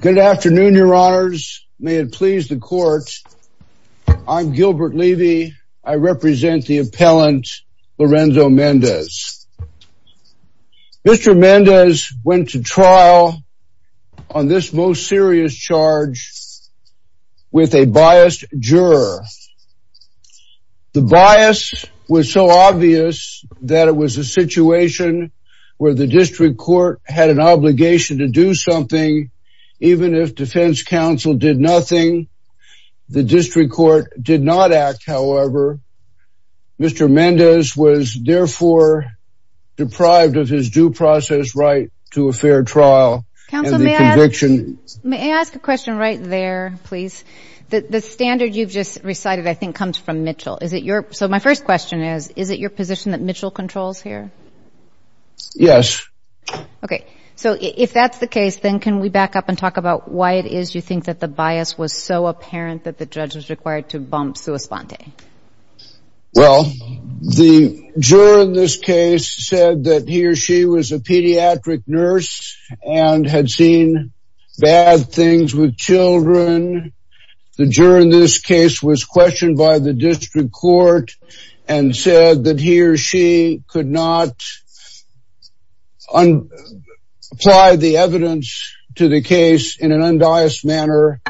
Good afternoon, your honors. May it please the court. I'm Gilbert Levy. I represent the appellant Lorenzo Mendez. Mr. Mendez went to trial on this most serious charge with a biased juror. The bias was so obvious that it was a situation where the district court had an obligation to do something. Even if defense counsel did nothing, the district court did not act. However, Mr. Mendez was therefore deprived of his due process right to a fair trial. LORENZO ELIAS MENDEZ Counsel, may I ask a question right there, please? The standard you've just recited, I think, comes from Mitchell. So my first question is, is it your position that Mitchell controls here? LORENZO ELIAS MENDEZ Yes. LORENZO ELIAS MENDEZ Okay. So if that's the case, then can we back up and talk about why it is you think that the bias was so apparent that the judge was required to bump sua sponte? LORENZO ELIAS MENDEZ Well, the juror in this case said that he or she was a pediatric nurse and had seen bad things with children. The juror in this case was questioned by the district court and said that he or she could not apply the evidence to the case in an undias manner.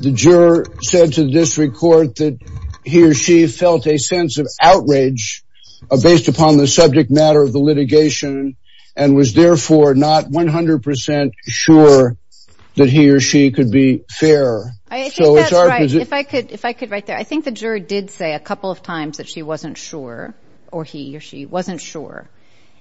The juror said to the district court that he or she felt a sense of outrage based upon the subject matter of the litigation and was therefore not 100 percent sure that he or she could be fair. LORENZO ELIAS MENDEZ I think that's right. If I could write that. I think the juror did say a couple of times that she wasn't sure or he or she wasn't sure.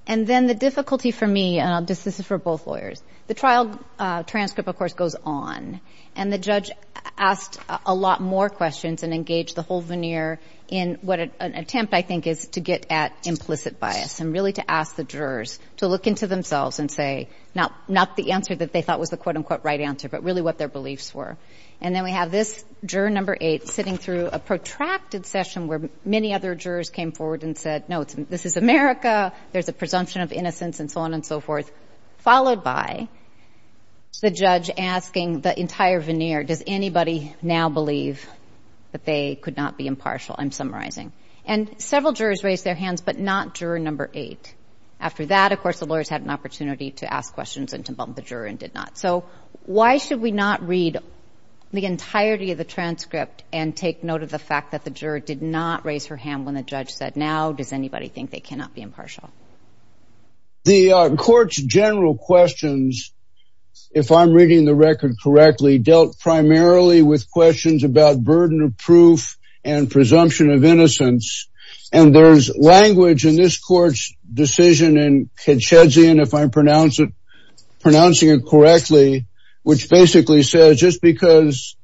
And then the difficulty for me, and this is for both lawyers, the trial transcript, of course, goes on. And the judge asked a lot more questions and engaged the whole veneer in what an attempt I think is to get at implicit bias and really to ask the jurors to look into themselves and say not the answer that they thought was the quote unquote right answer, but really what their beliefs were. And then we have this juror number sitting through a protracted session where many other jurors came forward and said, no, this is America. There's a presumption of innocence and so on and so forth, followed by the judge asking the entire veneer, does anybody now believe that they could not be impartial? I'm summarizing. And several jurors raised their hands, but not juror number eight. After that, of course, the lawyers had an opportunity to ask questions and to bump the juror and did not. So why should we not read the entirety of the transcript and take note of the fact that the juror did not raise her hand when the judge said now, does anybody think they cannot be impartial? The court's general questions, if I'm reading the record correctly, dealt primarily with questions about burden of proof and presumption of innocence. And there's language in this court's Chedzian, if I'm pronouncing it correctly, which basically says just because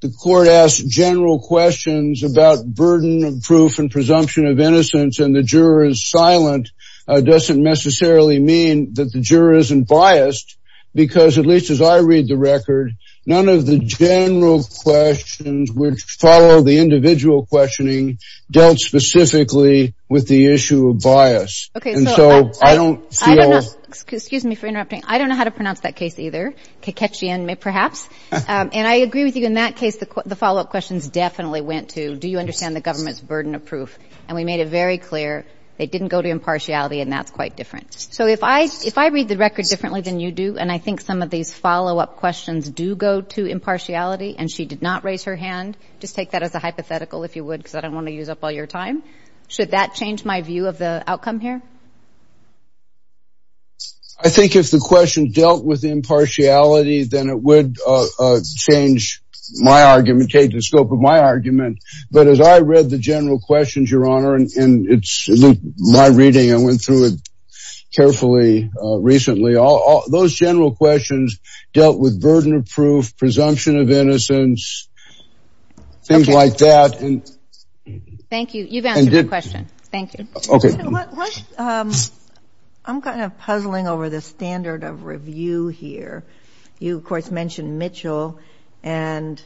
the court asked general questions about burden of proof and presumption of innocence and the juror is silent, doesn't necessarily mean that the juror isn't biased, because at least as I read the record, none of the general questions which follow the individual questioning dealt specifically with the issue of bias. And so I don't feel. I don't know. Excuse me for interrupting. I don't know how to pronounce that case either. Ketchian, perhaps. And I agree with you. In that case, the follow-up questions definitely went to, do you understand the government's burden of proof? And we made it very clear they didn't go to impartiality, and that's quite different. So if I read the record differently than you do, and I think some of these follow-up questions do go to impartiality and she did not raise her hand, just take that as a hypothetical, if you would, because I don't want to use up all your time. Should that change my view of the outcome here? I think if the question dealt with impartiality, then it would change my argument, take the scope of my argument. But as I read the general questions, Your Honor, and it's my reading, I went through it carefully recently. Those general questions dealt with burden of proof, presumption of innocence, things like that. Thank you. You've answered the question. Thank you. Okay. I'm kind of puzzling over the standard of review here. You, of course, mentioned Mitchell. And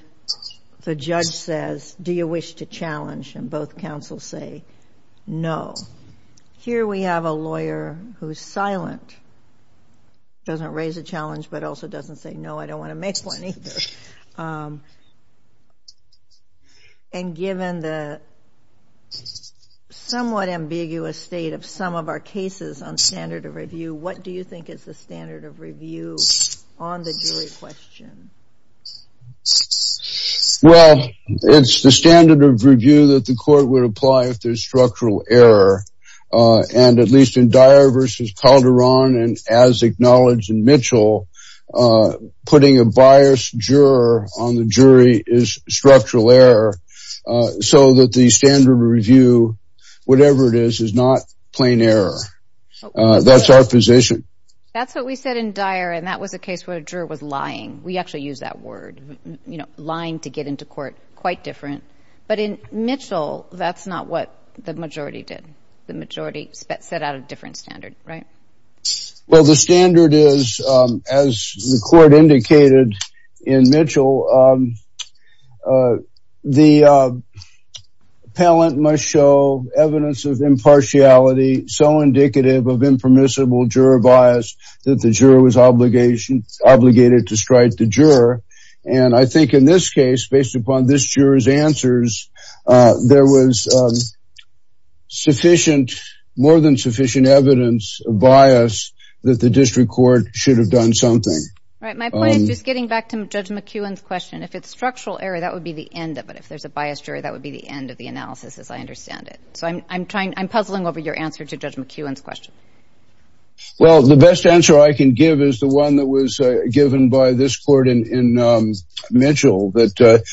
the judge says, do you wish to challenge? And both counsels say, no. Here we have a lawyer who's silent, doesn't raise a challenge, but also doesn't say, no, I don't want to make one either. And given the somewhat ambiguous state of some of our cases on standard of review, what do you think is the standard of review on the jury question? Well, it's the standard of review that the court would apply if there's structural error. And at least in Dyer versus Calderon, and as acknowledged in Mitchell, putting a biased juror on the jury is structural error. So that the standard of review, whatever it is, is not plain error. That's our position. That's what we said in Dyer. And that was a case where a juror was lying. We actually use that word, you know, lying to get into court, quite different. But in Mitchell, that's not what the majority did. The majority set out a different standard, right? Well, the standard is, as the court indicated in Mitchell, the appellant must show evidence of impartiality so indicative of impermissible juror bias that the juror was obligated to strike the juror. And I think in this case, based upon this juror's answers, there was sufficient, more than sufficient evidence of bias that the district court should have done something. Right. My point is just getting back to Judge McEwen's question. If it's structural error, that would be the end of it. If there's a biased juror, that would be the end of the analysis, as I understand it. So I'm trying, I'm puzzling over your answer to Judge McEwen's question. Well, the best answer I can give is the one that was given by this court in Mitchell, that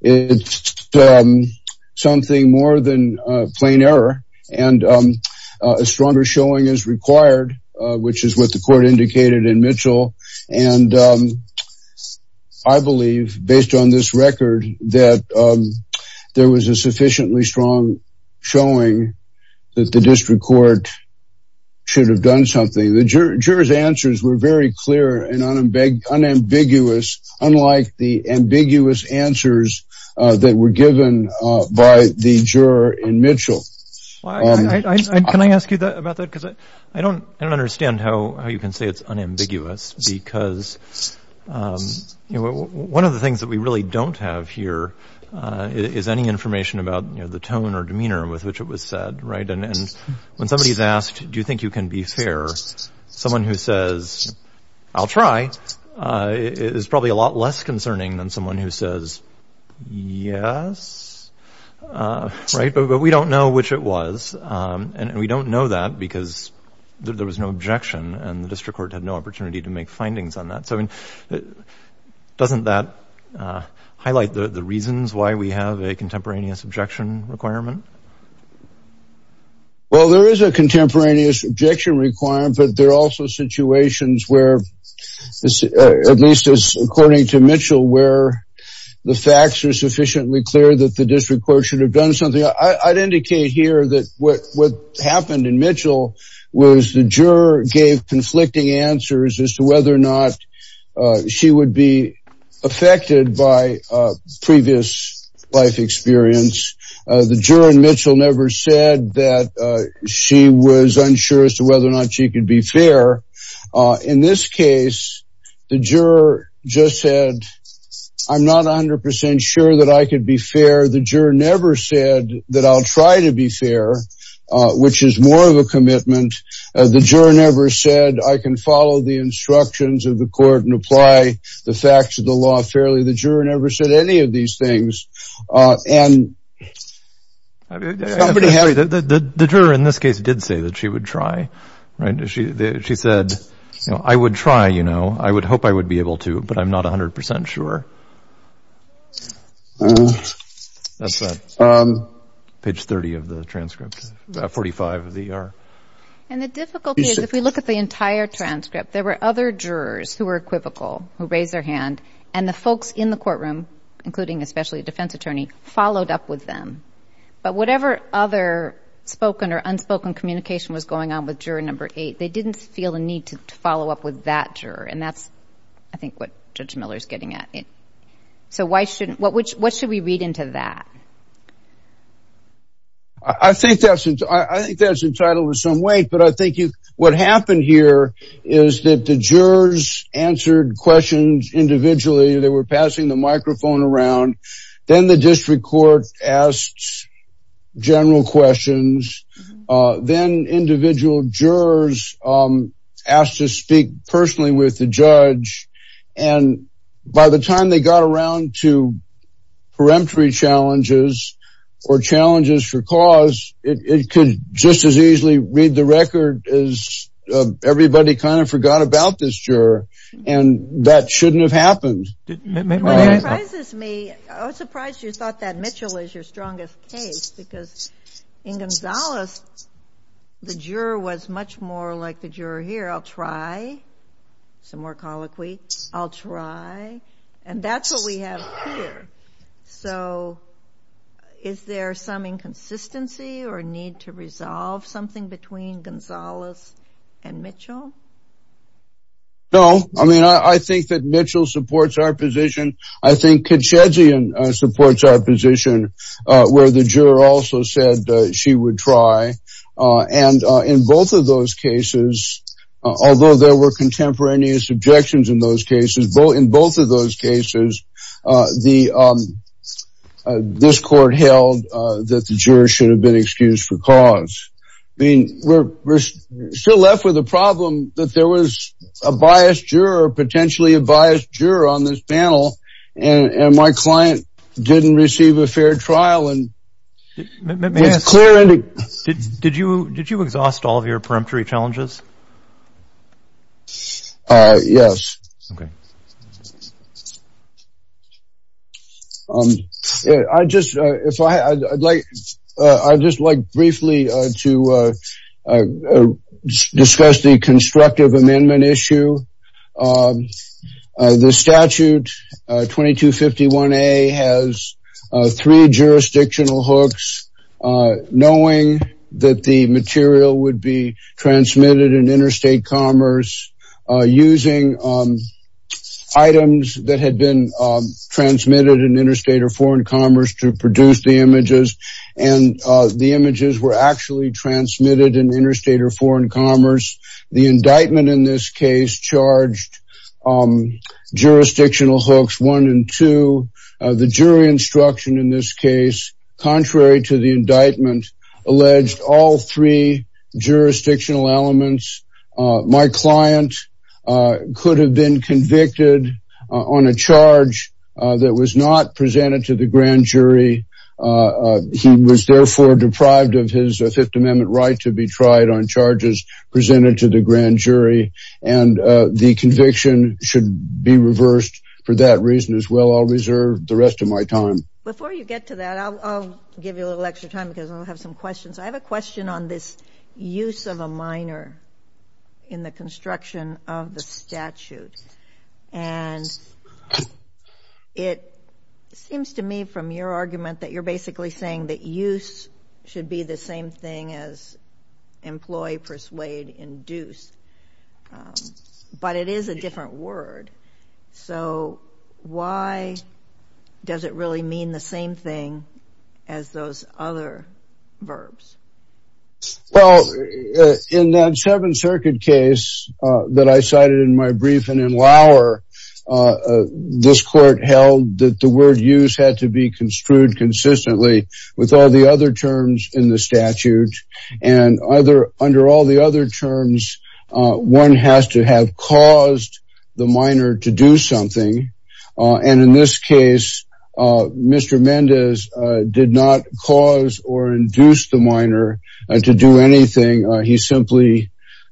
it's something more than plain error and a stronger showing is required, which is what the court indicated in Mitchell. And I believe, based on this record, that there was a sufficiently strong showing that the district court should have done something. The juror's answers were very clear and unambiguous, unlike the ambiguous answers that were given by the juror in Mitchell. Can I ask you about that? Because I don't understand how you can say it's unambiguous, because one of the things that we really don't have here is any information about the tone or someone who says, I'll try, is probably a lot less concerning than someone who says, yes. Right. But we don't know which it was. And we don't know that because there was no objection and the district court had no opportunity to make findings on that. So I mean, doesn't that highlight the reasons why we have a contemporaneous objection requirement? Well, there is a contemporaneous objection requirement, but there are also situations where, at least as according to Mitchell, where the facts are sufficiently clear that the district court should have done something. I'd indicate here that what happened in Mitchell was the juror gave conflicting answers as to whether or not she would be affected by previous life experience. The juror in Mitchell never said that she was unsure as to whether or not she could be fair. In this case, the juror just said, I'm not 100 percent sure that I could be fair. The juror never said that I'll try to be fair, which is more of a commitment. The juror never said I can follow the instructions of the court and apply the facts of the law fairly. The juror never said any of these things. The juror in this case did say that she would try, right? She said, I would try, you know, I would hope I would be able to, but I'm not 100 percent sure. That's page 30 of the transcript, 45 of the ER. And the difficulty is if we look at the entire transcript, there were other jurors who were equivocal, who raised their hand, and the folks in the courtroom, including especially a defense attorney, followed up with them. But whatever other spoken or unspoken communication was going on with juror number eight, they didn't feel a need to follow up with that juror. And that's, I think, what Judge Miller is getting at. So why shouldn't, what should we read into that? I think that's, I think that's entitled in some way, but I think what happened here is that the jurors answered questions individually. They were passing the microphone around. Then the district court asked general questions. Then individual jurors asked to speak personally with the judge. And by the time they got around to peremptory challenges or challenges for cause, it could just as easily read the record as everybody kind of forgot about this juror. And that shouldn't have happened. What surprises me, I was surprised you thought that Mitchell is your strongest case because in Gonzales, the juror was much more like the juror here. I'll try, some more colloquy. I'll try. And that's what we have here. So is there some inconsistency or need to resolve something between Gonzales and Mitchell? No. I mean, I think that Mitchell supports our position. I think Kitschedzian supports our position where the juror also said she would try. And in both of those cases, although there were contemporaneous objections in those cases, in both of those cases, this court held that the jurors should have been excused for cause. I mean, we're still left with a problem that there was a biased juror, potentially a biased juror on this panel. And my client didn't receive a fair trial. Did you exhaust all of your peremptory challenges? Yes. I just, if I, I'd like, I'd just like briefly to discuss the constructive amendment issue. The statute 2251A has three jurisdictional hooks, knowing that the material would be transmitted in interstate commerce using items that had been transmitted in interstate or foreign commerce to produce the images. And the images were actually transmitted in interstate or foreign commerce. The indictment in this case charged jurisdictional hooks one and two. The jury instruction in this case, contrary to the indictment, alleged all three jurisdictional elements. My client could have been convicted on a charge that was not presented to the grand jury. He was therefore deprived of his Fifth Amendment right to be tried on charges presented to the grand jury. And the conviction should be reversed for that reason as well. I'll reserve the rest of my time. Before you get to that, I'll give you a little extra time because I'll have some questions. I have a question on this use of a minor in the construction of the statute. And it seems to me from your argument that you're basically saying that use should be the same thing as employ, persuade, induce. But it is a different word. So why does it really mean the same thing as those other verbs? Well, in that Seventh Circuit case that I cited in my briefing in Lauer, this court held that the word use had to be construed consistently with all the other terms in the statute. And under all the other terms, one has to have caused the minor to do something. And in this case, Mr. Mendez did not cause or induce the minor to do anything. He simply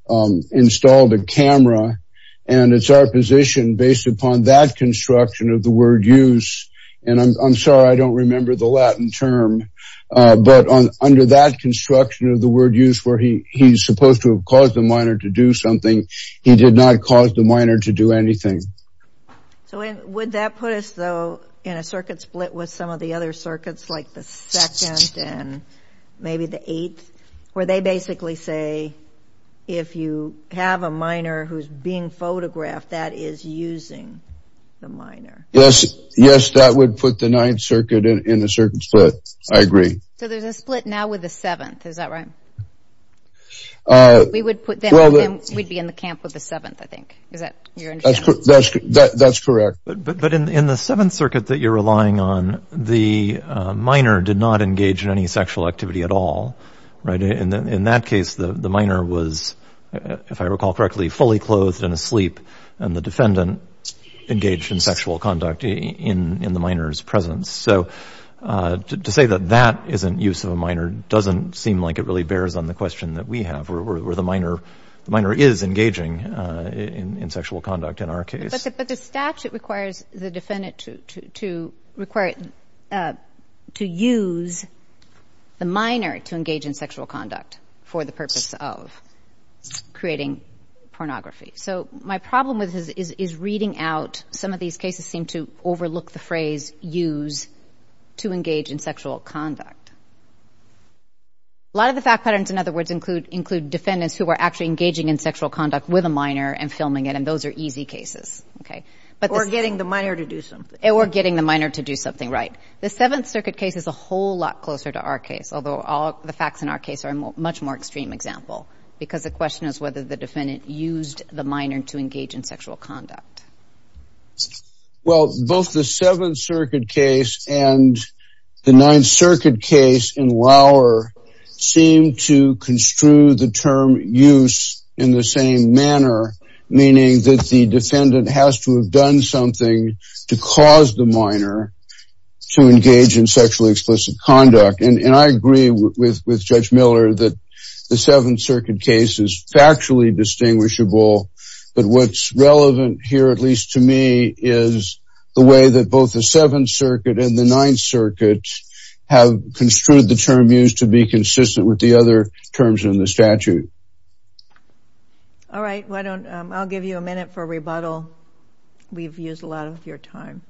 installed a camera. And it's our position based upon that construction of the word use. And I'm sorry, I don't remember the Latin term. But under that construction of the word use where he's supposed to have caused the minor to do something, he did not cause the minor to do anything. So would that put us, though, in a circuit split with some of the other circuits like the Second and maybe the Eighth, where they basically say if you have a minor who's being the Ninth Circuit in a certain split? I agree. So there's a split now with the Seventh, is that right? We'd be in the camp with the Seventh, I think. That's correct. But in the Seventh Circuit that you're relying on, the minor did not engage in any sexual activity at all. In that case, the minor was, if I recall correctly, fully clothed and asleep, and the defendant engaged in sexual conduct in the minor's presence. So to say that that isn't use of a minor doesn't seem like it really bears on the question that we have, where the minor is engaging in sexual conduct in our case. But the statute requires the defendant to use the minor to engage in sexual conduct for the purpose of creating pornography. So my problem with this is reading out, some of these cases seem to overlook the phrase use to engage in sexual conduct. A lot of the fact patterns, in other words, include defendants who are actually engaging in sexual conduct with a minor and filming it, and those are easy cases. Or getting the minor to do something. Or getting the minor to do something, right. The Seventh Circuit case is a whole lot closer to our case, although all the facts in our case are a much more extreme example. Because the question is whether the defendant used the minor to engage in sexual conduct. Well, both the Seventh Circuit case and the Ninth Circuit case in Lauer seem to construe the term use in the same manner. Meaning that the defendant has to have done something to cause the minor to engage in sexually explicit conduct. And I agree with Judge Miller that the Seventh Circuit case is factually distinguishable. But what's relevant here, at least to me, is the way that both the Seventh Circuit and the Ninth Circuit have construed the term use to be consistent with the other terms in the statute. All right, I'll give you a minute for rebuttal. We've used a lot of your time.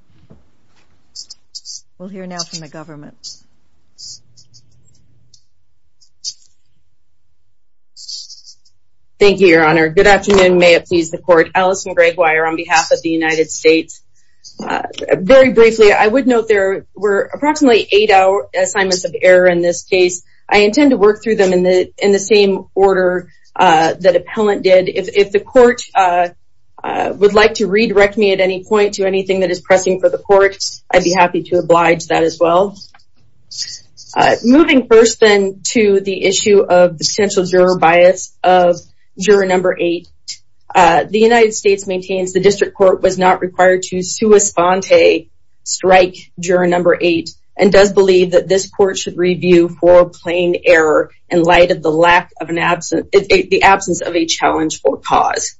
We'll hear now from the government. Thank you, Your Honor. Good afternoon. May it please the Court. Alison Gregg Weyer on behalf of the United States. Very briefly, I would note there were approximately eight hour assignments of error in this case. I intend to work through them in the same order that appellant did. If the Court would like to redirect me at any point to anything that is pressing for the Court, I'd be happy to oblige that as well. Moving first, then, to the issue of the potential juror bias of juror number eight. The United States maintains the District Court was not required to sua sponte strike juror number eight and does believe that this Court should review for a plain error in light of the absence of a challenge for cause.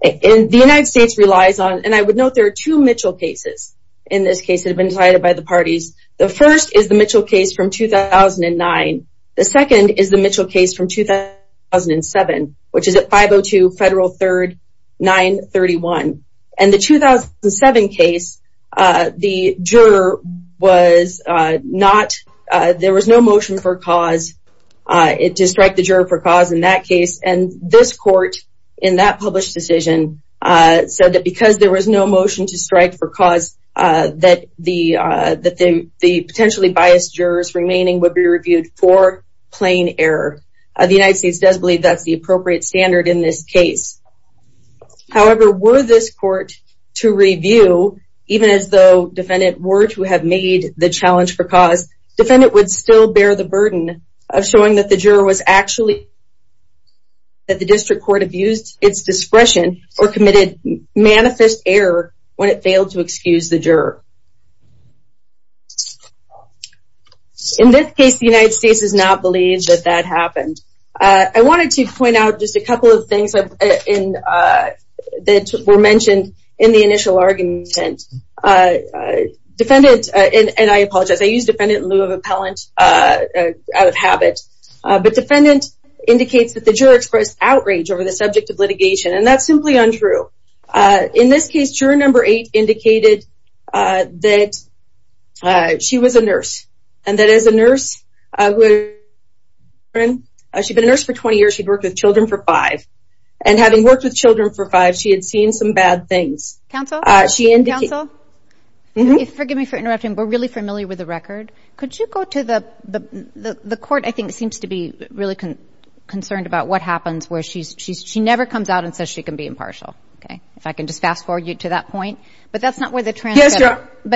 The United States relies on, I would note there are two Mitchell cases in this case that have been decided by the parties. The first is the Mitchell case from 2009. The second is the Mitchell case from 2007, which is at 502 Federal 3rd 931. In the 2007 case, the juror was not, there was no motion for cause to strike the juror for cause in that case. This Court, in that published decision, said that because there was no motion to strike for cause, that the potentially biased jurors remaining would be reviewed for plain error. The United States does believe that's the appropriate standard in this case. However, were this Court to review, even as though defendant were to have made the challenge for cause, defendant would still bear the burden of showing that the juror was actually, that the District Court abused its discretion or committed manifest error when it failed to excuse the juror. In this case, the United States does not believe that that happened. I wanted to point out just a couple of things that were mentioned in the initial argument. Defendant, and I apologize, I use defendant in lieu of appellant out of habit, but defendant indicates that the juror expressed outrage over the subject of litigation, and that's simply untrue. In this case, juror number eight indicated that she was a nurse, and that as a nurse, she'd been a nurse for 20 years, she'd worked with children for five, and having worked with children for five years, she'd been a nurse for 20 years, and she'd been a nurse for 20 years. And that's not true. And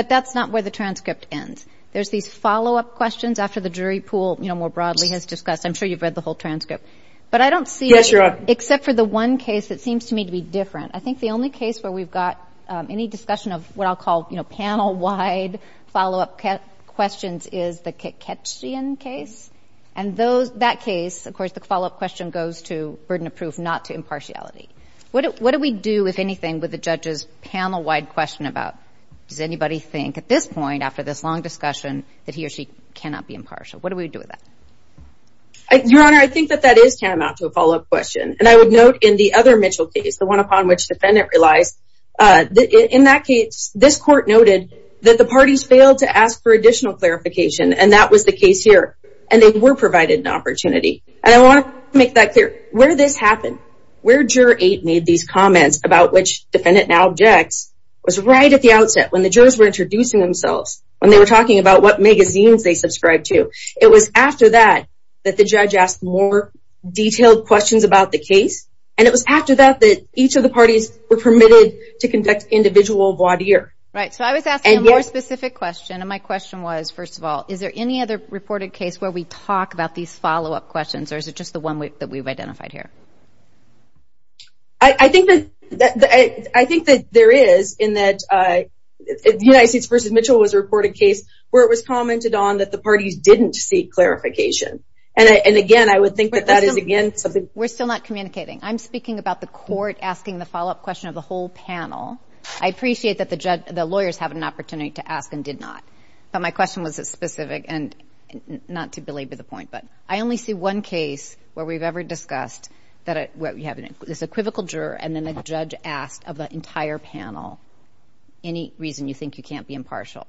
that's not where the transcript ends. There's these follow-up questions after the jury pool, you know, more broadly has discussed, I'm sure you've read the whole transcript, but I don't see, except for the one case that seems to me to be different, I think the only case where we've got any discussion of what I'll call, you know, panel-wide follow-up questions is the Keketjian case, and that case, of course, the follow-up question goes to burden of proof, not to impartiality. What do we do, if anything, with the judge's panel-wide question about, does anybody think at this point, after this long discussion, that he or she cannot be impartial? What do we do with that? Your Honor, I think that that is tantamount to a follow-up question, and I would note in the other Mitchell case, the one upon which defendant relies, in that case, this court noted that the parties failed to ask for additional clarification, and that was the case here, and they were provided an opportunity. And I want to make that clear, where this happened, where Juror 8 made these comments about which defendant now objects, was right at the outset, when the jurors were introducing themselves, when they were talking about what magazines they subscribed to. It was after that, that the judge asked more detailed questions about the case, and it was after that, that each of the parties were permitted to conduct individual voir dire. Right, so I was asking a more specific question, and my question was, first of all, is there any other reported case where we talk about these follow-up questions, or is it just the one that we've identified here? I think that there is, in that United States v. Mitchell was a reported case, where it was commented on that the parties didn't seek clarification, and again, I would think that that is, again, something... We're still not communicating. I'm speaking about the court asking the follow-up question of the whole panel. I appreciate that the lawyers have an opportunity to ask, and did not, but my question was specific, and not to belabor the point, but I only see one case where we've ever discussed this equivocal juror, and then the judge asked of the entire panel, any reason you think you can't be impartial.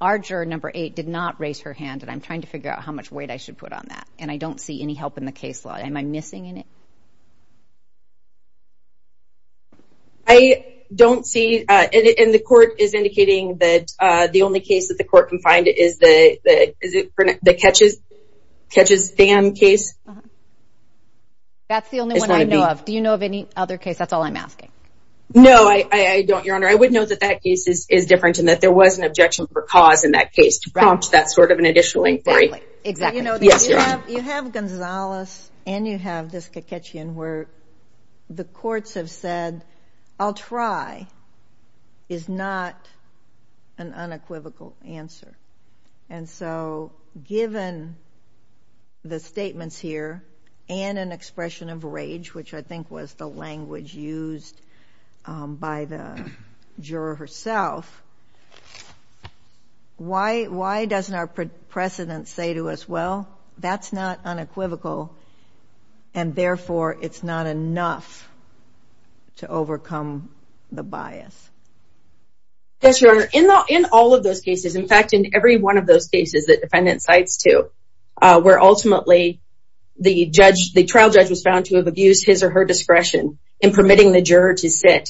Our juror, Number 8, did not raise her hand, and I'm trying to figure out how much weight I should put on that, and I don't see any help in the case law. Am I missing in it? I don't see, and the court is indicating that the only case that the court can find is the Catches Dam case. That's the only one I know of. Do you know of any other case? That's all I'm asking. No, I don't, Your Honor. I would know that that case is different, and that there was objection for cause in that case to prompt that sort of an additional inquiry. Exactly. You have Gonzalez, and you have this Kiketjian where the courts have said, I'll try, is not an unequivocal answer, and so given the statements here, and an expression of rage, which I think was the language used by the juror herself, why doesn't our precedent say to us, well, that's not unequivocal, and therefore it's not enough to overcome the bias? Yes, Your Honor. In all of those cases, in fact, in every one of those cases that defendant cites to, where ultimately the trial judge was found to have abused his or her discretion in permitting the juror to sit,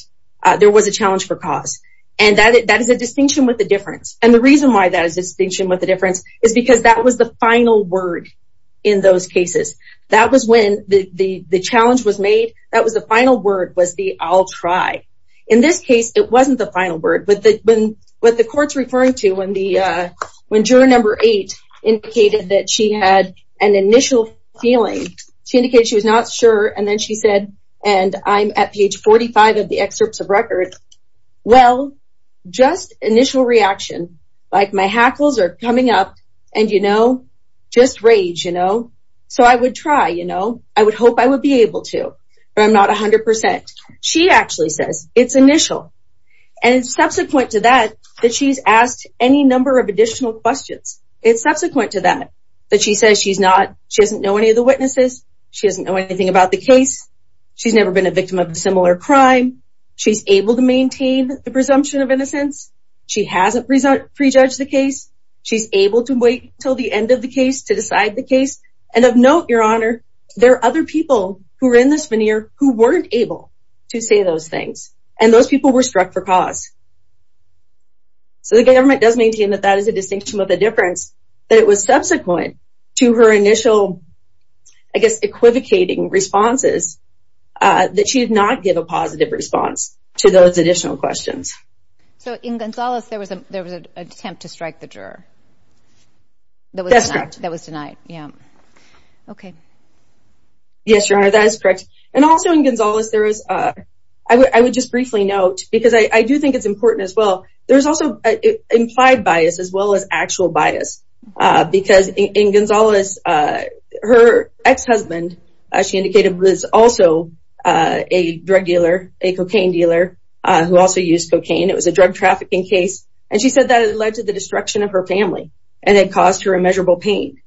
there was a challenge for cause, and that is a distinction with a difference, and the reason why that is a distinction with a difference is because that was the final word in those cases. That was when the challenge was made. That was the final word, was the I'll try. In this case, it wasn't the final word, but what the court's referring to when juror number eight indicated that she had an initial feeling, she indicated she was not sure, and then she said, and I'm at page 45 of the excerpts of record, well, just initial reaction, like my hackles are coming up, and you know, just rage, you know, so I would try, you know, I would hope I would be able to, but I'm not 100%. She actually says it's initial, and subsequent to that, that she's asked any of the witnesses. She doesn't know anything about the case. She's never been a victim of a similar crime. She's able to maintain the presumption of innocence. She hasn't pre-judged the case. She's able to wait until the end of the case to decide the case, and of note, Your Honor, there are other people who are in this veneer who weren't able to say those things, and those people were struck for cause, so the government does maintain that that is a distinction with a subsequent to her initial, I guess, equivocating responses that she did not give a positive response to those additional questions. So, in Gonzales, there was an attempt to strike the juror. That was denied, yeah. Okay. Yes, Your Honor, that is correct, and also in Gonzales, there is, I would just briefly note, because I do think it's important as well, there's also implied bias, as well as actual bias, because in Gonzales, her ex-husband, as she indicated, was also a drug dealer, a cocaine dealer, who also used cocaine. It was a drug trafficking case, and she said that it led to the destruction of her family, and it caused her immeasurable pain,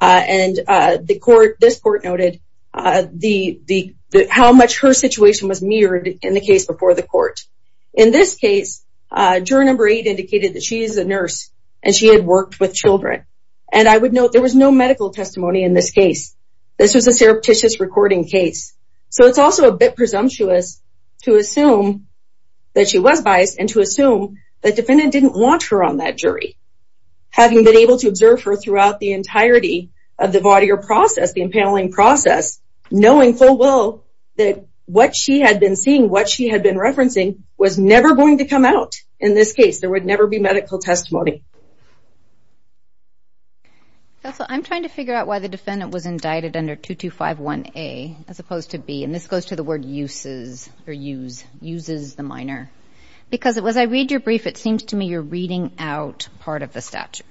and this court noted how much her situation was mirrored in the case before the court. In this case, juror number eight indicated that she is a nurse, and she had worked with children, and I would note there was no medical testimony in this case. This was a surreptitious recording case, so it's also a bit presumptuous to assume that she was biased, and to assume the defendant didn't want her on that jury, having been able to observe her throughout the entirety of the Vaudier process, the impaling process, knowing full well that what she had been seeing, what she had been referencing, was never going to come out in this case. There would never be medical testimony. Cecil, I'm trying to figure out why the defendant was indicted under 2251A, as opposed to B, and this goes to the word uses, or use, uses the minor, because as I read your brief, it seems to me you're reading out part of the statute.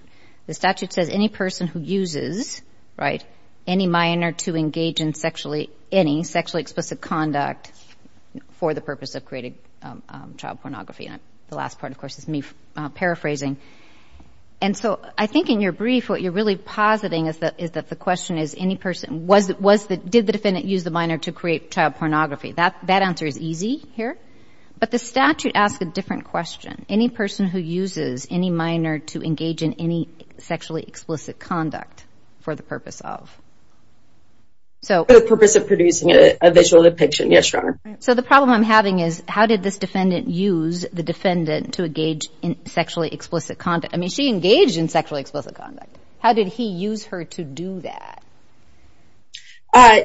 The statute says any person who uses, right, any minor to engage in any sexually explicit conduct for the purpose of creating child pornography, and the last part, of course, is me paraphrasing, and so I think in your brief, what you're really positing is that the question is, did the defendant use the minor to create child pornography? That answer is easy here, but the statute asks a different question. Any person who uses any minor to engage in any sexually explicit conduct for the purpose of... The purpose of producing a visual depiction, yes, your honor. So the problem I'm having is, how did this defendant use the defendant to engage in sexually explicit conduct? I mean, she engaged in sexually explicit conduct. How did he use her to do that?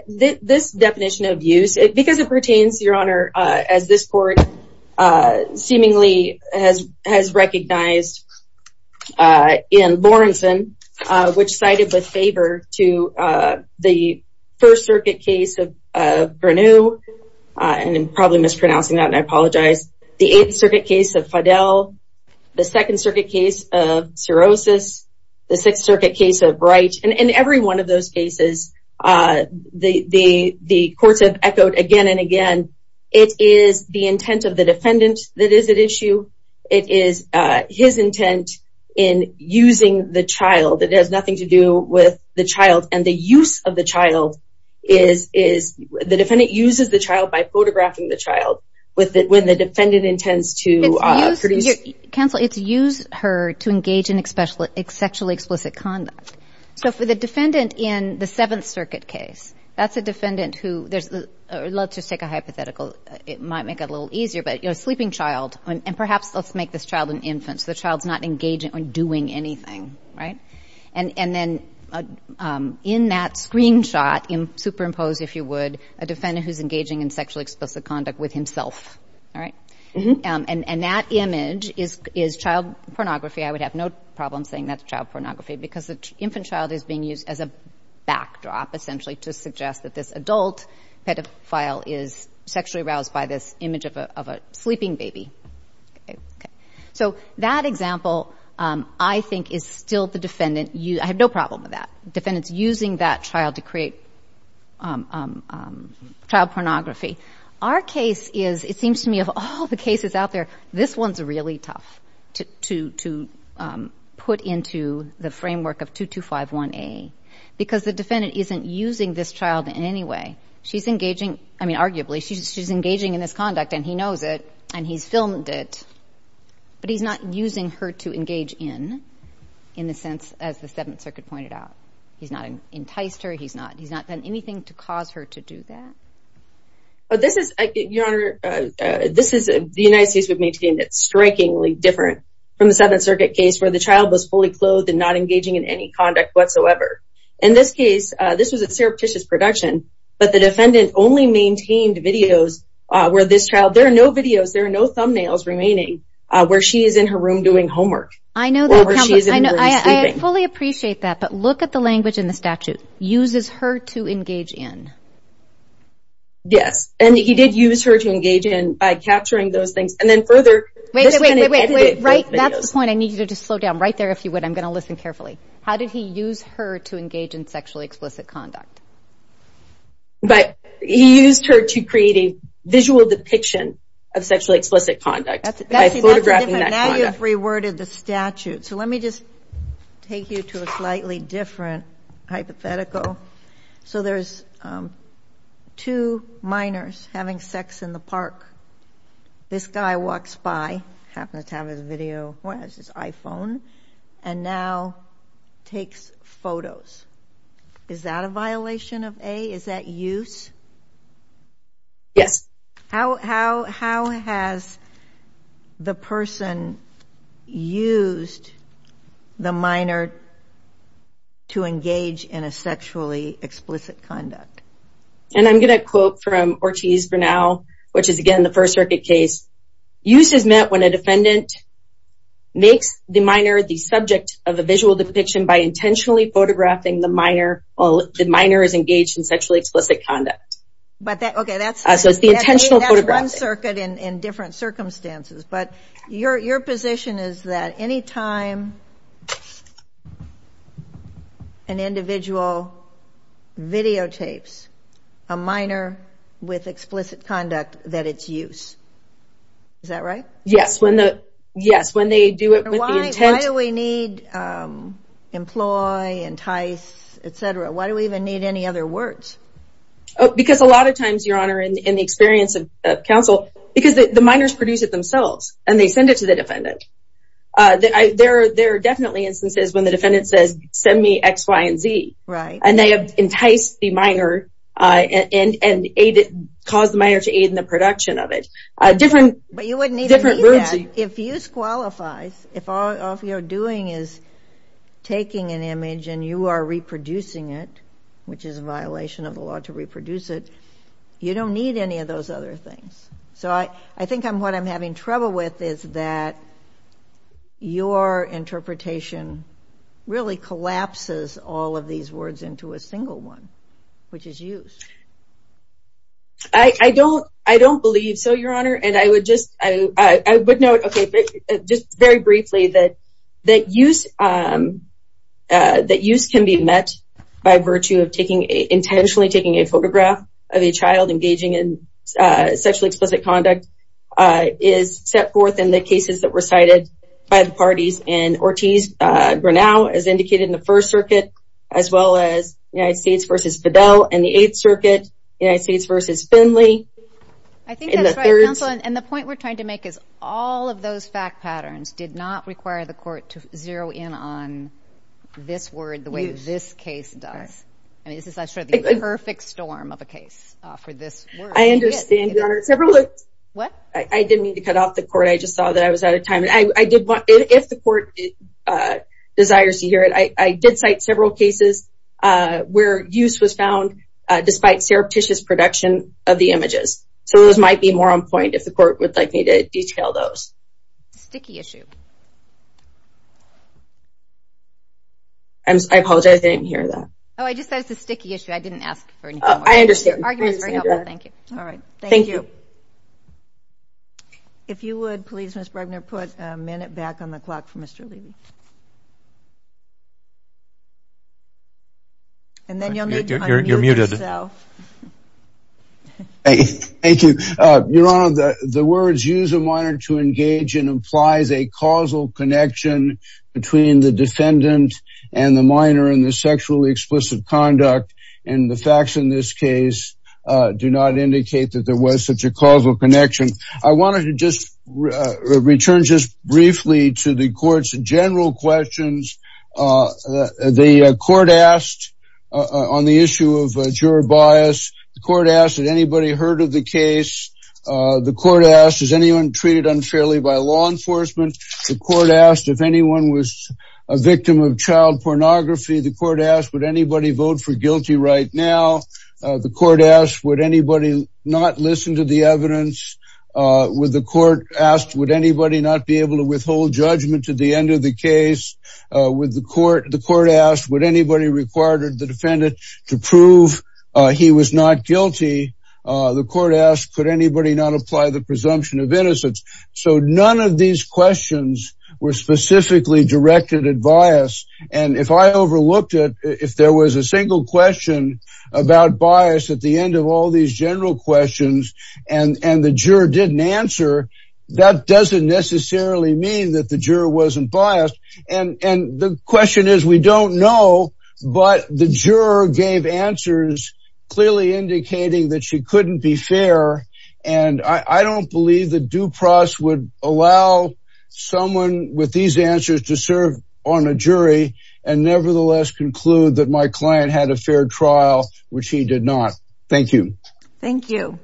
This definition of use, because it pertains, your honor, as this court seemingly has recognized in Lawrenson, which cited with favor to the First Circuit case of Bernou, and I'm probably mispronouncing that, and I apologize, the Eighth Circuit case of Fidel, the Second Circuit case of Sirosis, the Sixth Circuit case of Wright, and in every one of those cases, the courts have echoed again and again, it is the intent of the defendant that is at issue. It is his intent in using the child. It has nothing to do with the child, and the use of the child is... The defendant uses the child by photographing the child with the defendant intends to produce... Counsel, it's use her to engage in sexually explicit conduct. So for the defendant in the Seventh Circuit case, that's a defendant who... Let's just take a hypothetical, it might make it a little easier, but a sleeping child, and perhaps let's make this child an infant, so the child's not engaging or doing anything, right? And then in that screenshot, superimposed, if you would, a defendant who's engaging in sexually explicit conduct with himself, all right? And that image is child pornography. I would have no problem saying that's child pornography, because the infant child is being used as a backdrop, essentially, to suggest that this adult pedophile is sexually aroused by this image of a sleeping baby. So that example, I think, is still the defendant... I have no problem with that. Defendant's using that child to create child pornography. Our case is, it seems to me, of all the cases out there, this one's really tough to put into the framework of 2251A, because the defendant isn't using this child in any way. She's engaging, I mean, arguably, she's engaging in this conduct, and he knows it, and he's filmed it, but he's not using her to engage in, in a sense, as the Seventh Circuit pointed out. He's not enticed her, he's not done anything to cause her to do that. But this is, Your Honor, this is... The United States would maintain it's strikingly different from the Seventh Circuit case, where the child was fully clothed and not engaging in any conduct whatsoever. In this case, this was a surreptitious production, but the defendant only maintained videos where this child... There are no videos, there are no thumbnails remaining, where she is in her room doing homework. I know that. I fully appreciate that, but look at the language in the statute. Uses her to engage in. Yes, and he did use her to engage in by capturing those things, and then further... Wait, wait, wait, wait, wait. That's the point. I need you to just slow down right there if you would. I'm going to listen carefully. How did he use her to engage in sexually explicit conduct? But he used her to create a visual depiction of sexually explicit conduct by photographing that. Now you've reworded the statute, so let me just take you to a slightly different hypothetical. So there's two minors having sex in the park. This guy walks by, happens to have his video, his iPhone, and now takes photos. Is that a violation of A? Is that use? Yes. How has the person used the minor to engage in a sexually explicit conduct? And I'm going to quote from Ortiz Bernal, which is again the First Circuit case. Use is met when a defendant makes the minor the subject of a visual depiction by intentionally photographing the minor while the minor is engaged in sexually explicit conduct. But that's one circuit in different circumstances, but your position is that anytime an individual videotapes a minor with explicit conduct that it's use. Is that right? Yes, when they do it with the intent. Why do we need employ, entice, etc? Why do we even need any other words? Because a lot of times, Your Honor, in the experience of counsel, because the minors produce it themselves and they send it to the defendant. There are definitely instances when the defendant says send me X, Y, and Z. And they have enticed the minor and caused the minor to aid in the production of it. But you wouldn't need that. If use qualifies, if all you're doing is taking an image and you are reproducing it, which is a violation of the law to reproduce it, you don't need any of those other things. So I think what I'm having trouble with is that your interpretation really collapses all of these words into a single one, which is use. I don't believe so, Your Honor, and I would note, okay, just very briefly that use can be met by virtue of intentionally taking a photograph of a child engaging in sexually explicit conduct is set forth in the cases that were cited by the parties in Ortiz-Granau, as indicated in the First Circuit, as well as United States versus Fidel in the Eighth Circuit, United States versus Finley. I think that's right, counsel, and the point we're trying to make is all of those fact patterns did not require the court to zero in on this word the way this case does. I mean, this is sort of the perfect storm of a case for this word. I understand, Your Honor. I didn't mean to cut off the court, I just saw that I was out of time. If the court desires to hear it, I did cite several cases where use was found despite surreptitious production of the images, so those might be more on point if the court would like me to detail those. Sticky issue. I apologize, I didn't hear that. Oh, I just said it's a sticky issue. I didn't ask for anything. I understand. Thank you. All right. Thank you. If you would please, Ms. Bregner, put a minute back on the clock for Mr. Lee. And then you'll need to unmute yourself. Thank you. Your Honor, the words use a minor to engage in implies a causal connection between the defendant and the minor in the sexually explicit conduct, and the facts in this case do not indicate that there was such a causal connection. I wanted to just return just briefly to the court's general questions. The court asked on the issue of juror bias, the court asked, had anybody heard of the case? The court asked, is anyone treated unfairly by law enforcement? The court asked, if anyone was a victim of child pornography, the court asked, would anybody vote for guilty right now? The court asked, would anybody not listen to the evidence? The court asked, would anybody not be able to withhold judgment to the end of the case? The court asked, would anybody require the defendant to prove he was not guilty? The court asked, could anybody not apply the presumption of innocence? So none of these questions were specifically directed at bias. And if I overlooked it, if there was a single question about bias at the end of all these general questions and the juror didn't answer, that doesn't necessarily mean that the juror wasn't biased. And the question is, we don't know, but the juror gave answers clearly indicating that she couldn't be fair. And I don't believe that Dupross would allow someone with these answers to serve on a jury and nevertheless conclude that my client had a fair trial, which he did not. Thank you. Thank you.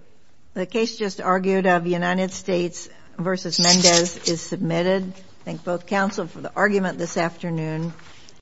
The case just argued of United States versus Mendez is submitted. Thank both counsel for the argument this afternoon.